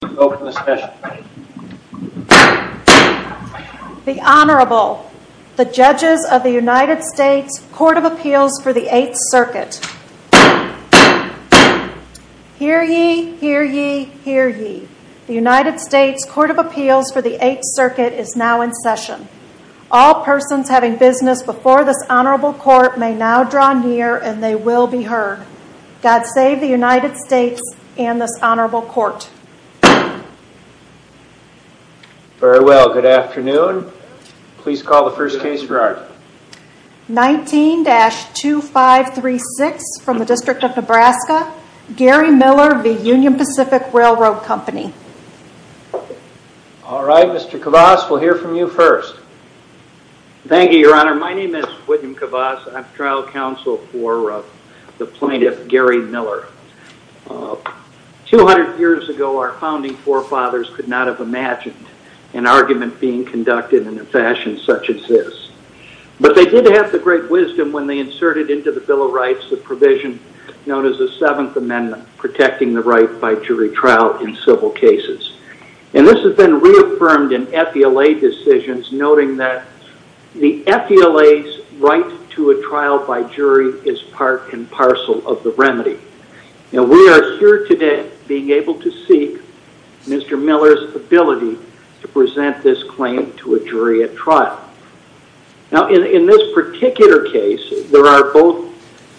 The Honorable, the Judges of the United States Court of Appeals for the 8th Circuit. Hear ye, hear ye, hear ye, the United States Court of Appeals for the 8th Circuit is now in session. All persons having business before this Honorable Court may now draw near and they will be heard. God save the United States and this Honorable Court. Very well, good afternoon. Please call the first case for order. 19-2536 from the District of Nebraska, Gary Miller v. Union Pacific Railroad Company. All right, Mr. Cavas, we'll hear from you first. Thank you, Your Honor. My name is William Cavas. I'm trial counsel for the plaintiff, Gary Miller. 200 years ago, our founding forefathers could not have imagined an argument being conducted in a fashion such as this, but they did have the great wisdom when they inserted into the Bill of Rights the provision known as the 7th Amendment, protecting the right by jury trial in civil cases, and this has been reaffirmed in FDLA decisions, noting that the FDLA's right to a trial by jury is part and parcel of the remedy. Now, we are here today being able to seek Mr. Miller's ability to present this claim to a jury at trial. Now in this particular case, there are both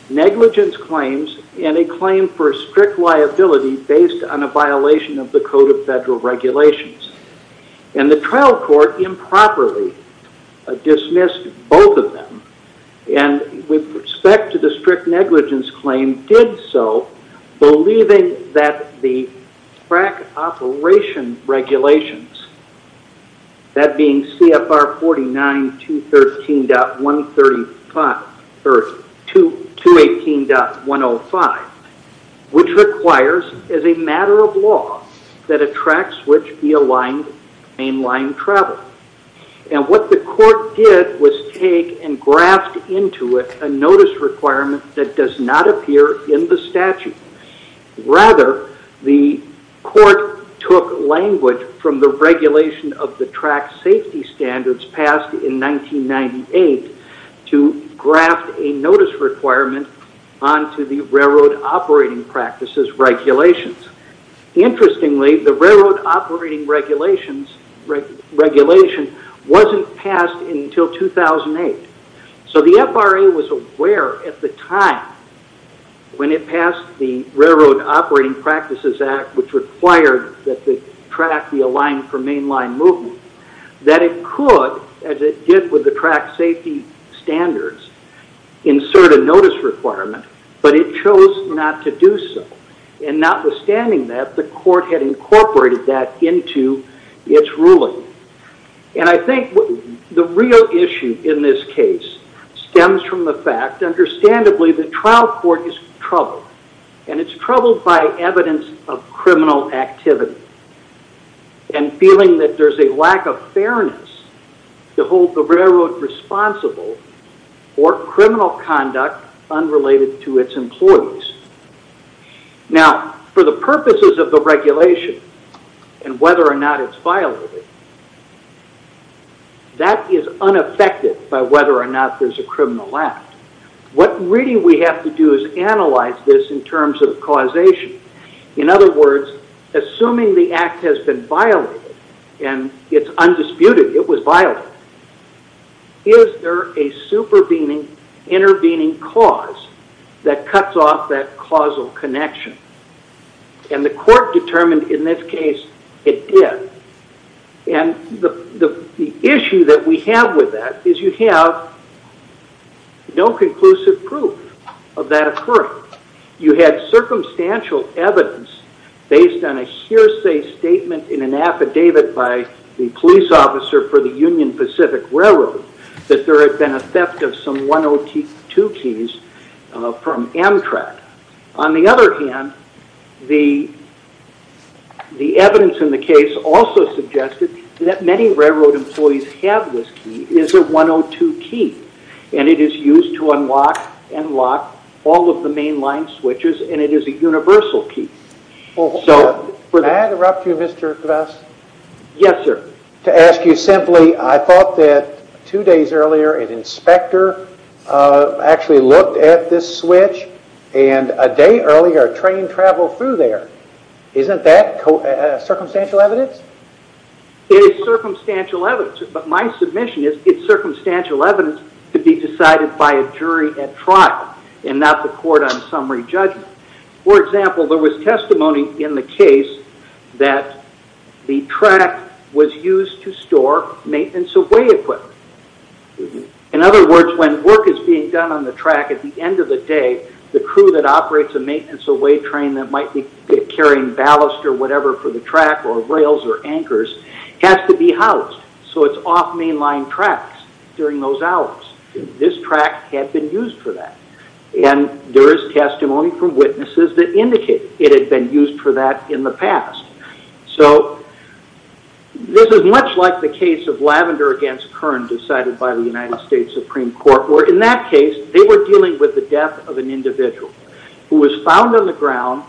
negligence claims and a claim for strict liability based on a violation of the Code of Federal Regulations, and the trial court improperly dismissed both of them, and with respect to the strict negligence claim, did so believing that the crack operation regulations, that being CFR 49213.135, or 218.105, which requires as a matter of law that a track switch be aligned to mainline travel, and what the court did was take and graft into it a notice requirement that does not appear in the statute. Rather, the court took language from the regulation of the track safety standards passed in 1998 to graft a notice requirement onto the railroad operating practices regulations. Interestingly, the railroad operating regulations wasn't passed until 2008. So the FRA was aware at the time when it passed the Railroad Operating Practices Act, which required that the track be aligned for mainline movement, that it could, as it did with the track safety standards, insert a notice requirement, but it chose not to do so, and notwithstanding that, the court had incorporated that into its ruling. And I think the real issue in this case stems from the fact, understandably, the trial court is troubled, and it's troubled by evidence of criminal activity, and feeling that there's a lack of fairness to hold the railroad responsible for criminal conduct unrelated to its employees. Now, for the purposes of the regulation, and whether or not it's violated, that is unaffected by whether or not there's a criminal act. What really we have to do is analyze this in terms of causation. In other words, assuming the act has been violated, and it's undisputed, it was violated, is there a supervening, intervening cause that cuts off that causal connection? And the court determined in this case it did. And the issue that we have with that is you have no conclusive proof of that occurring. You had circumstantial evidence based on a hearsay statement in an affidavit by the police officer for the Union Pacific Railroad that there had been a theft of some 102 keys from Amtrak. On the other hand, the evidence in the case also suggested that many railroad employees have this key. It is a 102 key, and it is used to unlock and lock all of the mainline switches, and it is a universal key. Well, may I interrupt you, Mr. Kvas? Yes, sir. To ask you simply, I thought that two days earlier an inspector actually looked at this switch, and a day earlier, a train traveled through there. Isn't that circumstantial evidence? It is circumstantial evidence, but my submission is it's circumstantial evidence to be decided by a jury at trial and not the court on summary judgment. For example, there was testimony in the case that the track was used to store maintenance away equipment. In other words, when work is being done on the track, at the end of the day, the crew that operates a maintenance away train that might be carrying ballast or whatever for the track or rails or anchors has to be housed, so it's off mainline tracks during those hours. This track had been used for that, and there is testimony from witnesses that indicate it had been used for that in the past. So this is much like the case of Lavender against Kern decided by the United States Supreme Court, where in that case, they were dealing with the death of an individual who was found on the ground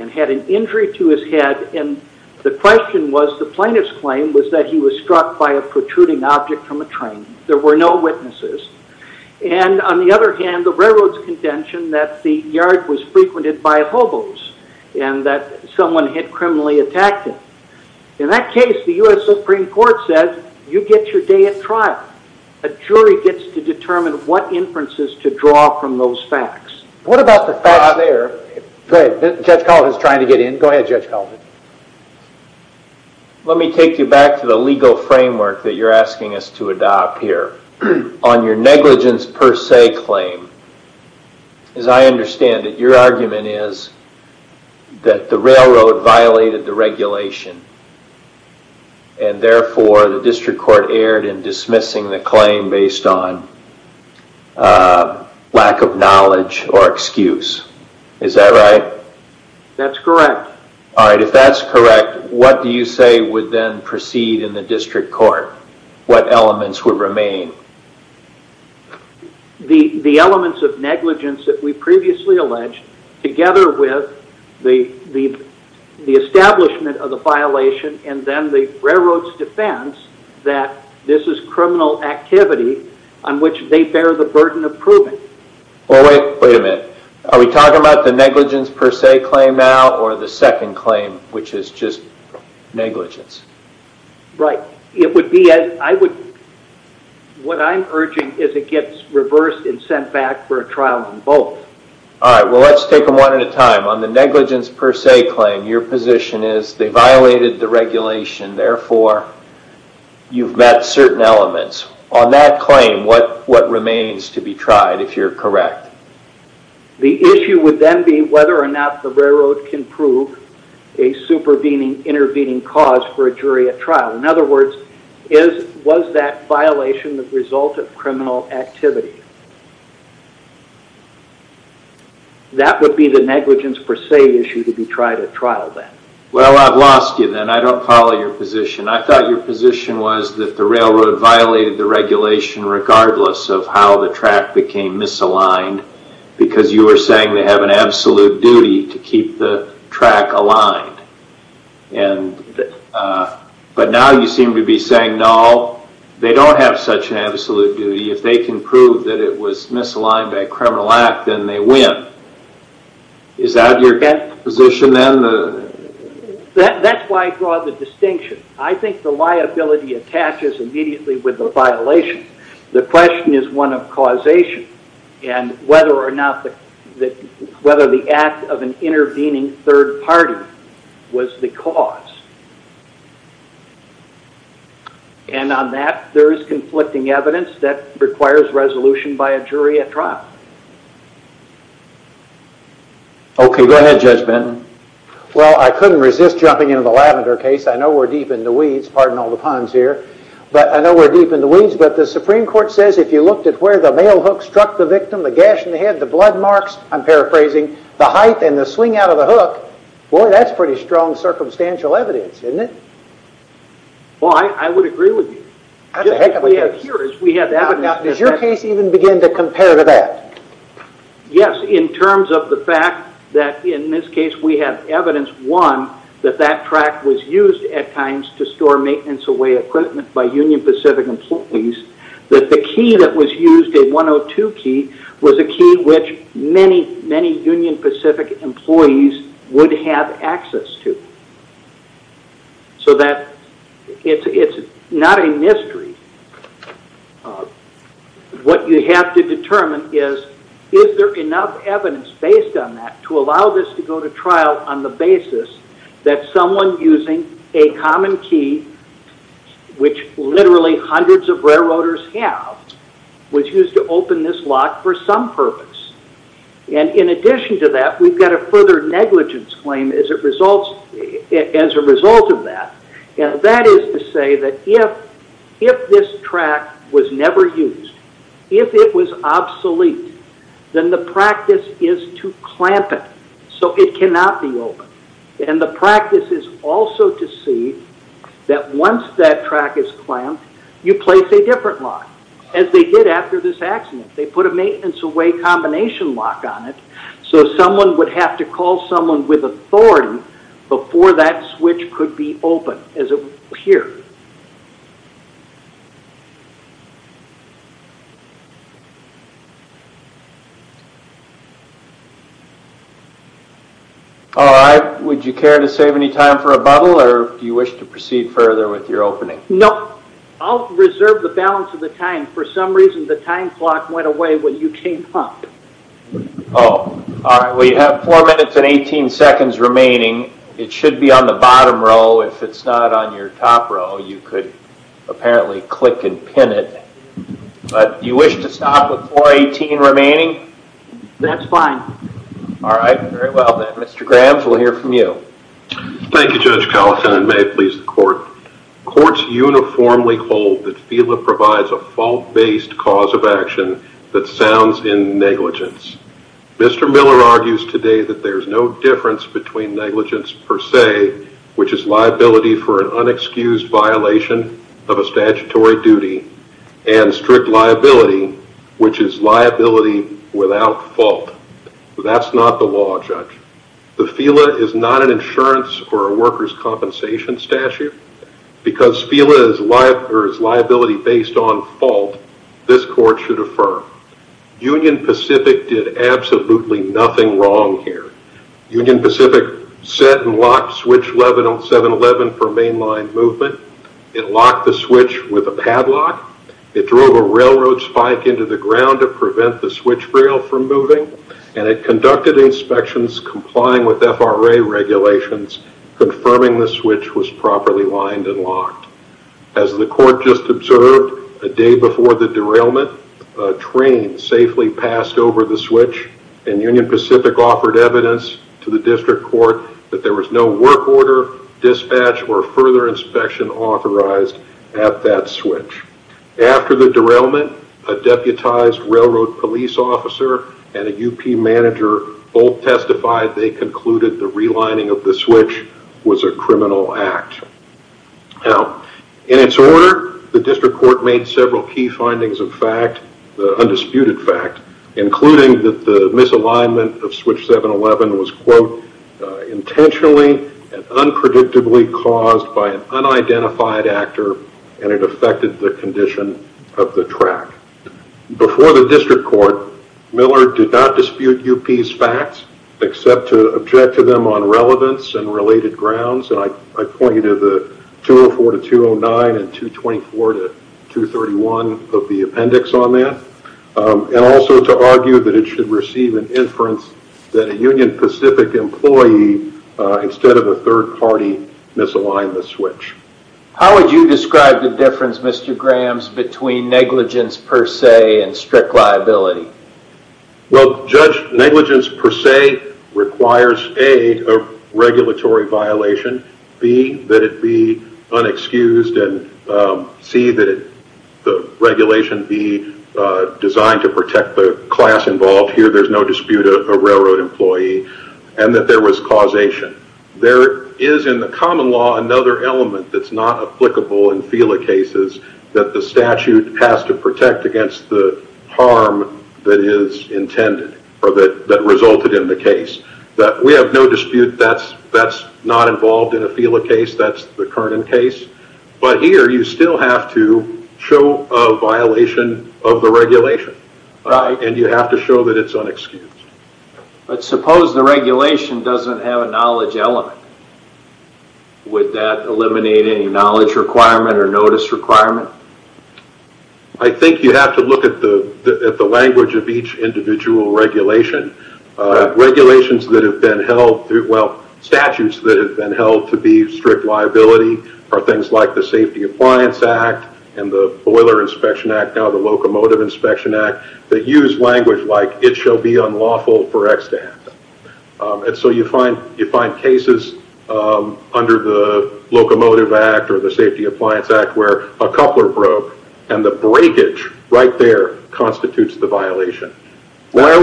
and had an injury to his head, and the question was, the plaintiff's claim was that he was struck by a protruding object from a train. There were no witnesses, and on the other hand, the railroad's contention that the yard was frequented by hobos and that someone had criminally attacked him. In that case, the U.S. Supreme Court said, you get your day at trial. A jury gets to determine what inferences to draw from those facts. What about the facts out there that Judge Colvin's trying to get in? Go ahead, Judge Colvin. Let me take you back to the legal framework that you're asking us to adopt here. On your negligence per se claim, as I understand it, your argument is that the railroad violated the regulation, and therefore, the district court erred in dismissing the claim based on lack of knowledge or excuse. Is that right? That's correct. If that's correct, what do you say would then proceed in the district court? What elements would remain? The elements of negligence that we previously alleged, together with the establishment of the violation and then the railroad's defense that this is criminal activity on which they Wait a minute. Are we talking about the negligence per se claim now or the second claim, which is just negligence? Right. What I'm urging is it gets reversed and sent back for a trial in both. All right. Well, let's take them one at a time. On the negligence per se claim, your position is they violated the regulation, therefore, you've met certain elements. On that claim, what remains to be tried if you're correct? The issue would then be whether or not the railroad can prove a supervening, intervening cause for a jury at trial. In other words, was that violation the result of criminal activity? That would be the negligence per se issue to be tried at trial then. Well, I've lost you then. I don't follow your position. I thought your position was that the railroad violated the regulation regardless of how the track became misaligned because you were saying they have an absolute duty to keep the track aligned. But now you seem to be saying, no, they don't have such an absolute duty. If they can prove that it was misaligned by a criminal act, then they win. Is that your position then? That's why I draw the distinction. I think the liability attaches immediately with the violation. The question is one of causation and whether or not the act of an intervening third party was the cause. And on that, there is conflicting evidence that requires resolution by a jury at trial. Okay. Go ahead, Judge Benton. Well, I couldn't resist jumping into the Lavender case. I know we're deep in the weeds. Pardon all the puns here. But I know we're deep in the weeds. But the Supreme Court says if you looked at where the male hook struck the victim, the gash in the head, the blood marks, I'm paraphrasing, the height and the swing out of the hook, boy, that's pretty strong circumstantial evidence, isn't it? Well, I would agree with you. We have evidence. Does your case even begin to compare to that? Yes, in terms of the fact that in this case we have evidence, one, that that track was used at times to store maintenance away equipment by Union Pacific employees, that the key that was used, a 102 key, was a key which many, many Union Pacific employees would have access to. So that it's not a mystery. What you have to determine is, is there enough evidence based on that to allow this to go to trial on the basis that someone using a common key, which literally hundreds of railroaders have, was used to open this lock for some purpose. And in addition to that, we've got a further negligence claim as a result of that. That is to say that if this track was never used, if it was obsolete, then the practice is to clamp it. So it cannot be opened. And the practice is also to see that once that track is clamped, you place a different lock, as they did after this accident. They put a maintenance away combination lock on it, so someone would have to call someone with authority before that switch could be opened, as it would appear. All right. Would you care to save any time for a bubble, or do you wish to proceed further with your opening? Nope. I'll reserve the balance of the time. For some reason, the time clock went away when you came up. Oh. All right. Well, you have 4 minutes and 18 seconds remaining. It should be on the bottom row. If it's not on your top row, you could apparently click and pin it. But do you wish to stop with 4.18 remaining? That's fine. All right. Very well, then. Mr. Grams, we'll hear from you. Thank you, Judge Collison, and may it please the court. Courts uniformly hold that FELA provides a fault-based cause of action that sounds in negligence. Mr. Miller argues today that there's no difference between negligence per se, which is liability for an unexcused violation of a statutory duty, and strict liability, which is liability without fault. That's not the law, Judge. The FELA is not an insurance or a worker's compensation statute. Because FELA is liability based on fault, this court should affirm. Union Pacific did absolutely nothing wrong here. Union Pacific set and locked switch 711 for mainline movement. It locked the switch with a padlock. It drove a railroad spike into the ground to prevent the switch rail from moving, and it conducted inspections complying with FRA regulations, confirming the switch was properly lined and locked. As the court just observed, a day before the derailment, a train safely passed over the switch, and Union Pacific offered evidence to the district court that there was no work procedure, dispatch, or further inspection authorized at that switch. After the derailment, a deputized railroad police officer and a UP manager both testified they concluded the relining of the switch was a criminal act. Now, in its order, the district court made several key findings of fact, the undisputed fact, including that the misalignment of switch 711 was, quote, intentionally and unpredictably caused by an unidentified actor, and it affected the condition of the track. Before the district court, Miller did not dispute UP's facts, except to object to them on relevance and related grounds. I point you to the 204 to 209 and 224 to 231 of the appendix on that. Also to argue that it should receive an inference that a Union Pacific employee, instead of a third party, misaligned the switch. How would you describe the difference, Mr. Grahams, between negligence per se and strict liability? Well, Judge, negligence per se requires, A, a regulatory violation, B, that it be unexcused, and C, that the regulation be designed to protect the class involved. Here, there's no dispute of a railroad employee, and that there was causation. There is, in the common law, another element that's not applicable in FELA cases, that the statute has to protect against the harm that is intended or that resulted in the case. We have no dispute that's not involved in a FELA case. That's the Kernan case, but here, you still have to show a violation of the regulation. You have to show that it's unexcused. Suppose the regulation doesn't have a knowledge element. Would that eliminate any knowledge requirement or notice requirement? I think you have to look at the language of each individual regulation. Regulations that have been held, well, statutes that have been held to be strict liability are things like the Safety Appliance Act and the Boiler Inspection Act, now the Locomotive Inspection Act, that use language like, it shall be unlawful for X to happen. You find cases under the Locomotive Act or the Safety Appliance Act where a coupler broke and the breakage right there constitutes the violation. Where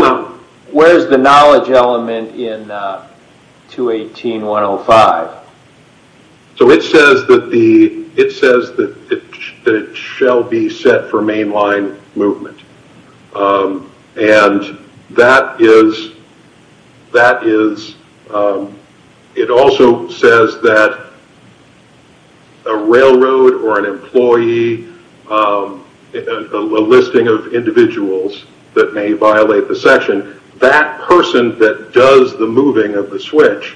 is the knowledge element in 218.105? It says that it shall be set for mainline movement. It also says that a railroad or an employee, a listing of individuals that may be involved and may violate the section, that person that does the moving of the switch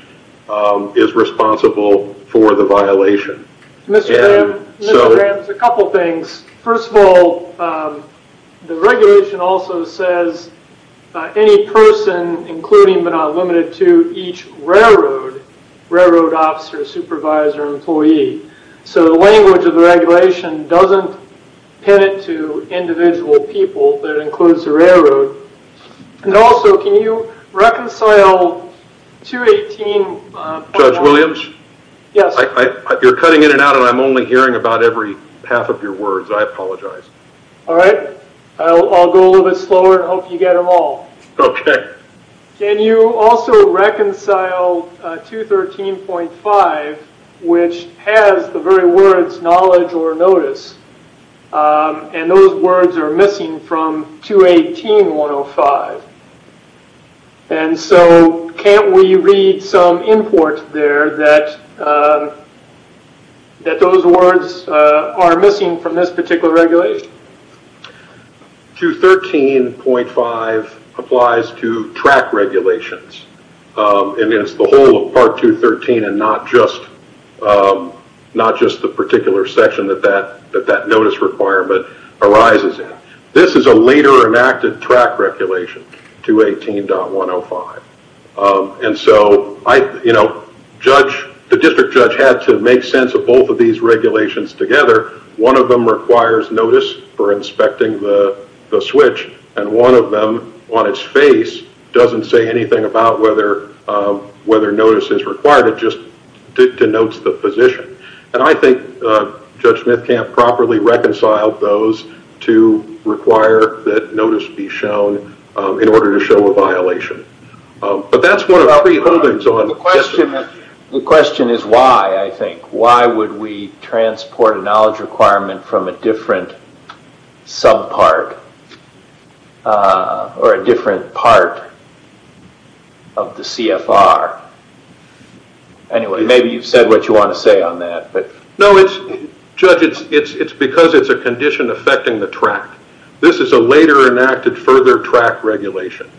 is responsible for the violation. Mr. Graham, a couple things. First of all, the regulation also says, any person including but not limited to each railroad, railroad officer, supervisor, employee, so the language of the regulation doesn't pin to individual people, that includes the railroad, and also can you reconcile 218.105? Judge Williams? Yes. You're cutting in and out and I'm only hearing about every half of your words, I apologize. All right. I'll go a little bit slower and hope you get them all. Okay. Can you also reconcile 213.5, which has the very words knowledge or notice? Those words are missing from 218.105. Can't we read some import there that those words are missing from this particular regulation? 213.5 applies to track regulations. It's the whole of part 213 and not just the particular section that that notice requirement arises in. This is a later enacted track regulation, 218.105. The district judge had to make sense of both of these regulations together. One of them requires notice for inspecting the switch and one of them on its face doesn't say anything about whether notice is required, it just denotes the position. I think Judge Smith can't properly reconcile those to require that notice be shown in order to show a violation. That's one of our three holdings on... The question is why, I think. Why would we transport a knowledge requirement from a different subpart or a different part of the CFR? Anyway, maybe you've said what you want to say on that. No, Judge, it's because it's a condition affecting the track. This is a later enacted further track regulation.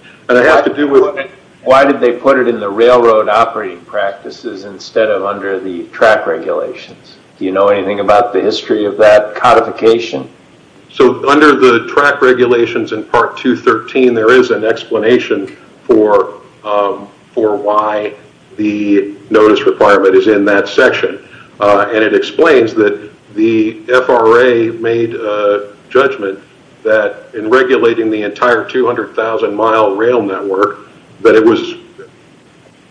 Why did they put it in the railroad operating practices instead of under the track regulations? Do you know anything about the history of that codification? Under the track regulations in part 213, there is an explanation for why the notice requirement is in that section. It explains that the FRA made a judgment that in regulating the entire 200,000 mile rail network, that it was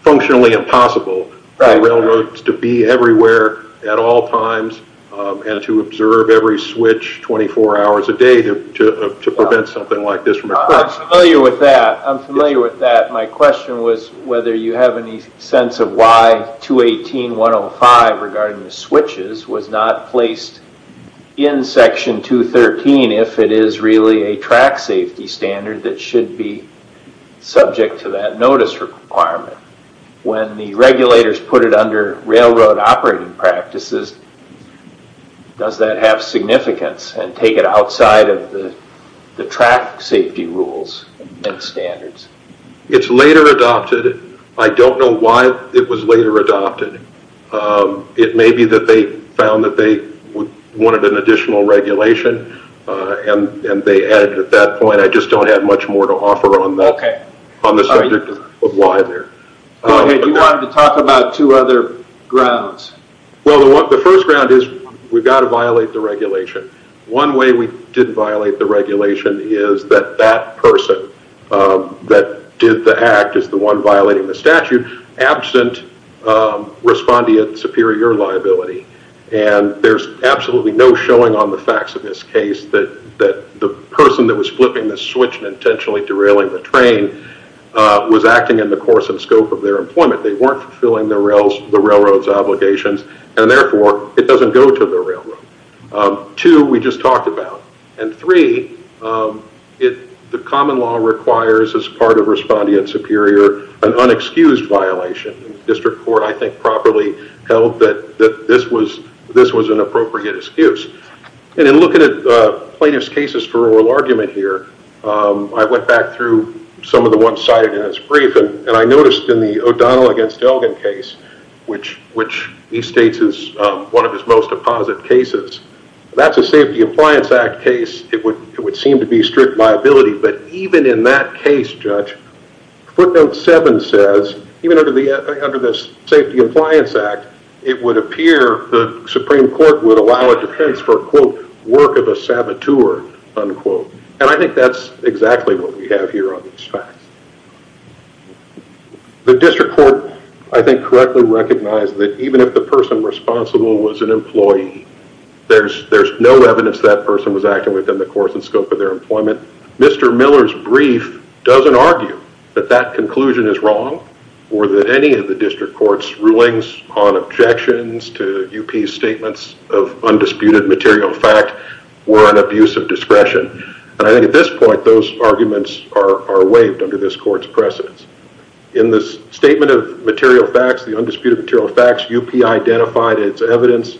functionally impossible for railroads to be everywhere at all times and to observe every switch 24 hours a day to prevent something like this from occurring. I'm familiar with that. My question was whether you have any sense of why 218.105 regarding the switches was not placed in section 213 if it is really a track safety standard that should be subject to that notice requirement. When the regulators put it under railroad operating practices, does that have significance and take it outside of the track safety rules and standards? It's later adopted. I don't know why it was later adopted. It may be that they found that they wanted an additional regulation and they added it at that point. I just don't have much more to offer on the subject of why there. You wanted to talk about two other grounds. The first ground is we've got to violate the regulation. One way we didn't violate the regulation is that that person that did the act is the one violating the statute absent respondeat superior liability. There's absolutely no showing on the facts of this case that the person that was flipping the switch and intentionally derailing the train was acting in the course and scope of their employment. They weren't fulfilling the railroad's obligations. Therefore, it doesn't go to the railroad. Two, we just talked about. Three, the common law requires as part of respondeat superior an unexcused violation. The district court, I think, properly held that this was an appropriate excuse. In looking at plaintiff's cases for oral argument here, I went back through some of the ones cited in this brief. I noticed in the O'Donnell against Elgin case, which he states is one of his most opposite cases, that's a Safety Appliance Act case. It would seem to be strict liability. Even in that case, Judge, footnote seven says, even under the Safety Appliance Act, it would appear the Supreme Court would allow a defense for, quote, work of a saboteur, unquote. I think that's exactly what we have here on these facts. The district court, I think, correctly recognized that even if the person responsible was an employee, there's no evidence that person was acting within the course and scope of their employment. Mr. Miller's brief doesn't argue that that conclusion is wrong or that any of the district court's rulings on objections to UP's statements of undisputed material fact were an abuse of discretion. I think at this point, those arguments are waived under this court's precedence. In this statement of material facts, the undisputed material facts, UP identified its evidence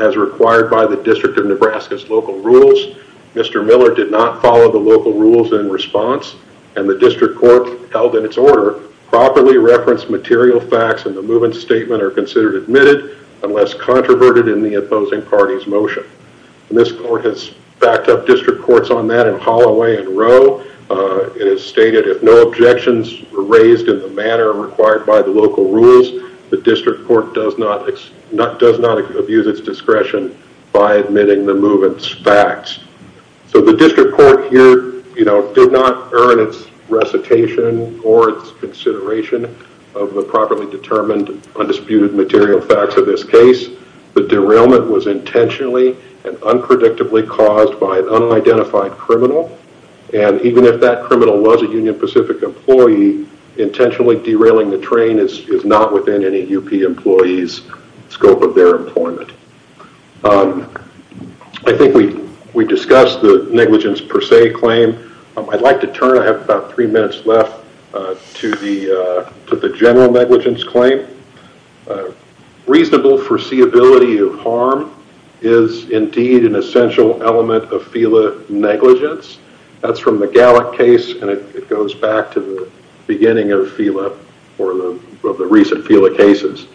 as required by the District of Nebraska's local rules. Mr. Miller did not follow the local rules in response, and the district court held in its order, properly referenced material facts in the movement statement are considered admitted unless controverted in the opposing party's motion. This court has backed up district courts on that in Holloway and Rowe. It has stated if no objections were raised in the manner required by the local rules, the district court does not abuse its discretion by admitting the movement's facts. The district court here did not earn its recitation or its consideration of the properly determined undisputed material facts of this case. The derailment was intentionally and unpredictably caused by an unidentified criminal. Even if that criminal was a Union Pacific employee, intentionally derailing the train is not within any UP employee's scope of their employment. I think we discussed the negligence per se claim. I'd like to turn, I have about three minutes left, to the general negligence claim. Reasonable foreseeability of harm is indeed an essential element of FELA negligence. That's from the Gallick case and it goes back to the beginning of FELA or the recent FELA cases.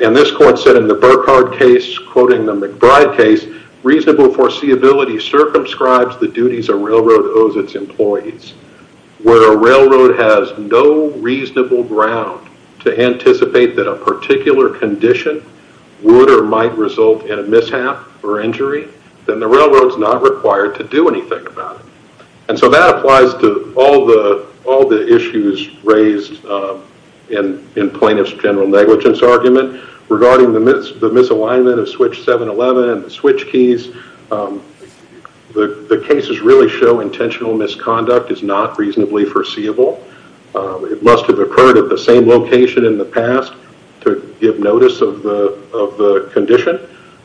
This court said in the Burkhardt case, quoting the McBride case, reasonable foreseeability circumscribes the duties a railroad owes its employees. Where a railroad has no reasonable ground to anticipate that a particular condition would or might result in a mishap or injury, then the railroad's not required to do anything about it. That applies to all the issues raised in plaintiff's general negligence argument. Regarding the misalignment of switch 711 and the switch keys, the cases really show intentional misconduct is not reasonably foreseeable. It must have occurred at the same location in the past to give notice of the condition.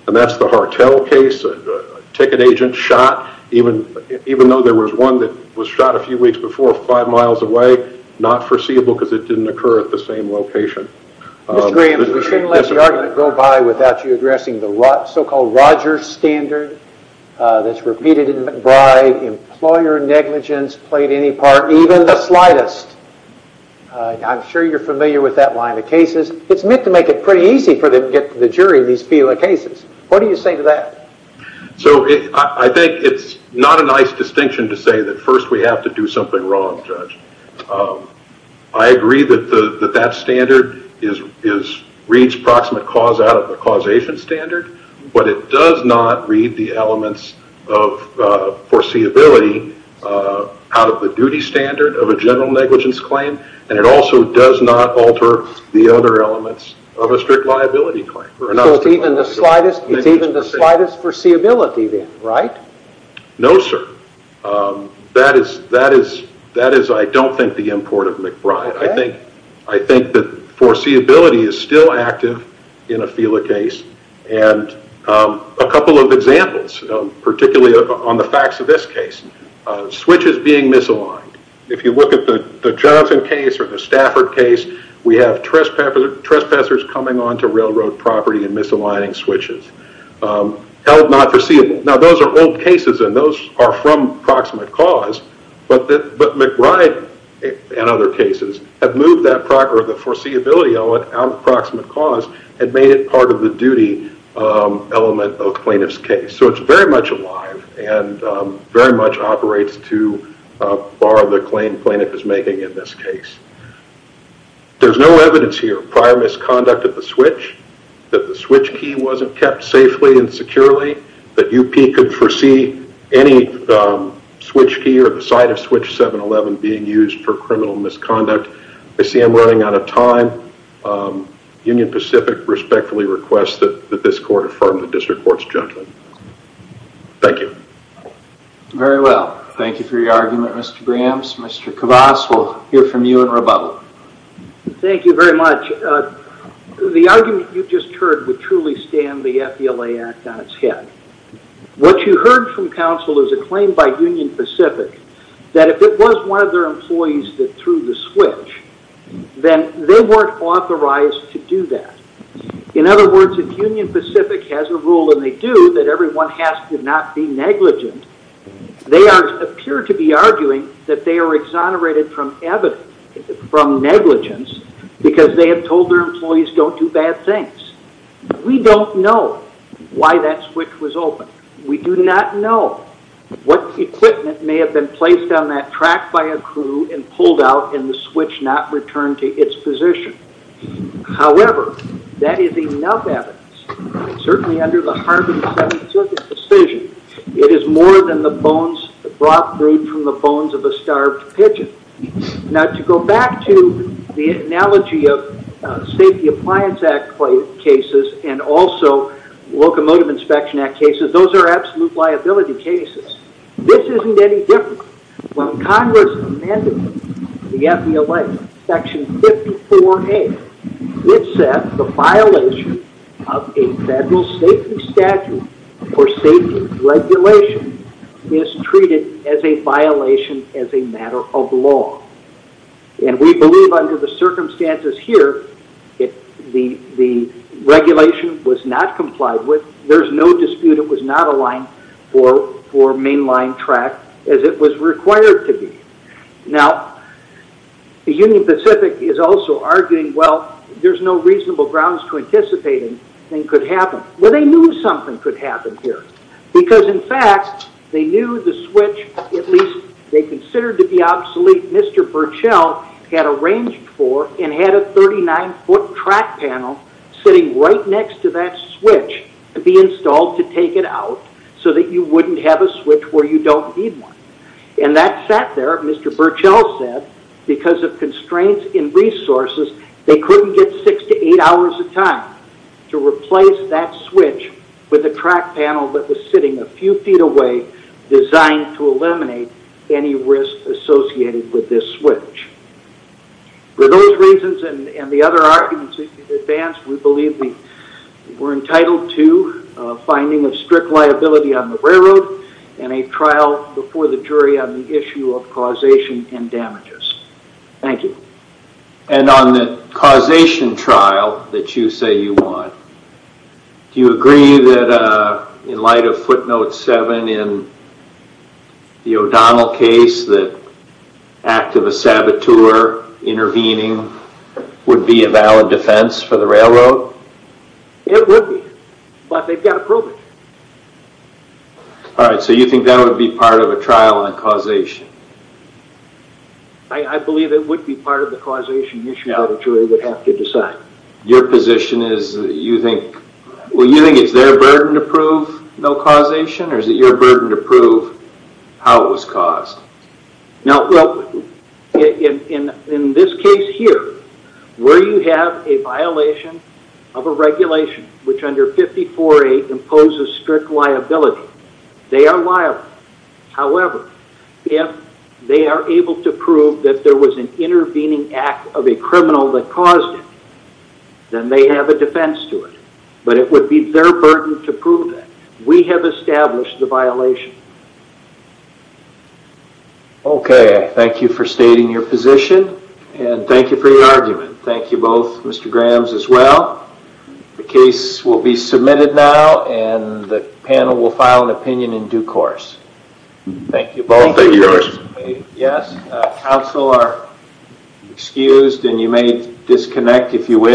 That's the Hartell case, a ticket agent shot, even though there was one that was shot a few weeks before five miles away, not foreseeable because it didn't occur at the same location. Mr. Grahams, we shouldn't let the argument go by without you addressing the so-called Rogers standard that's repeated in McBride. Employer negligence played any part, even the slightest. I'm sure you're familiar with that line of cases. It's meant to make it pretty easy for them to get to the jury in these cases. What do you say to that? I think it's not a nice distinction to say that first we have to do something wrong, Judge. I agree that that standard reads proximate cause out of the causation standard, but it does not read the elements of foreseeability out of the duty standard of a general negligence claim, and it also does not alter the other elements of a strict liability claim. It's even the slightest foreseeability then, right? No, sir. That is, I don't think, the import of McBride. I think that foreseeability is still active in a Fela case, and a couple of examples, particularly on the facts of this case. Switches being misaligned. If you look at the Johnson case or the Stafford case, we have trespassers coming onto railroad property and misaligning switches. Held not foreseeable. Now, those are old cases, and those are from proximate cause, but McBride and other cases have moved that prox... element of plaintiff's case, so it's very much alive and very much operates to bar the claim plaintiff is making in this case. There's no evidence here. Prior misconduct of the switch, that the switch key wasn't kept safely and securely, that UP could foresee any switch key or the side of switch 711 being used for criminal misconduct. I see I'm running out of time. Union Pacific respectfully requests that this court affirm the district court's judgment. Thank you. Very well. Thank you for your argument, Mr. Brams. Mr. Kavas, we'll hear from you in rebuttal. Thank you very much. The argument you just heard would truly stand the FBLA Act on its head. What you heard from counsel is a claim by Union Pacific that if it was one of their employees that threw the switch, then they weren't authorized to do that. In other words, if Union Pacific has a rule, and they do, that everyone has to not be negligent, they appear to be arguing that they are exonerated from evidence, from negligence, because they have told their employees don't do bad things. We don't know why that switch was opened. We do not know what equipment may have been placed on that track by a crew and pulled out and the switch not returned to its position. However, that is enough evidence. Certainly under the Harvard Seventh Circuit's decision, it is more than the bones brought through from the bones of a starved pigeon. Now, to go back to the analogy of Safety Appliance Act cases and also Locomotive Inspection Act cases, those are absolute liability cases. This isn't any different. When Congress amended the FBLA Section 54A, it said the violation of a federal safety statute or safety regulation is treated as a violation as a matter of law. We believe under the circumstances here, the regulation was not complied with. There's no dispute it was not aligned for mainline track as it was required to be. Now, the Union Pacific is also arguing, well, there's no reasonable grounds to anticipate anything could happen. Well, they knew something could happen here. Because, in fact, they knew the switch, at least they considered to be obsolete, Mr. Burchell had arranged for and had a 39-foot track panel sitting right next to that switch to be installed to take it out so that you wouldn't have a switch where you don't need one. And that sat there, Mr. Burchell said, because of constraints in resources, they couldn't get six to eight hours of time to replace that switch with a track panel that was sitting a few feet away designed to eliminate any risk associated with this switch. For those reasons and the other arguments in advance, we believe we're entitled to a finding of strict liability on the railroad and a trial before the jury on the issue of causation and damages. Thank you. And on the causation trial that you say you want, do you agree that in light of footnote seven in the O'Donnell case that act of a saboteur intervening would be a valid defense for the railroad? It would be, but they've got to prove it. All right, so you think that would be part of a trial on causation? I believe it would be part of the causation issue that the jury would have to decide. Your position is that you think, well, you think it's their burden to prove no causation or is it your burden to prove how it was caused? Well, in this case here, where you have a violation of a regulation which under 54A imposes strict liability, they are liable. However, if they are able to prove that there was an intervening act of a criminal that caused it, then they have a defense to it. But it would be their burden to prove that. We have established the violation. Okay, thank you for stating your position and thank you for your argument. Thank you both, Mr. Grams, as well. The case will be submitted now and the panel will file an opinion in due course. Thank you both. Yes, counsel are excused and you may disconnect if you wish.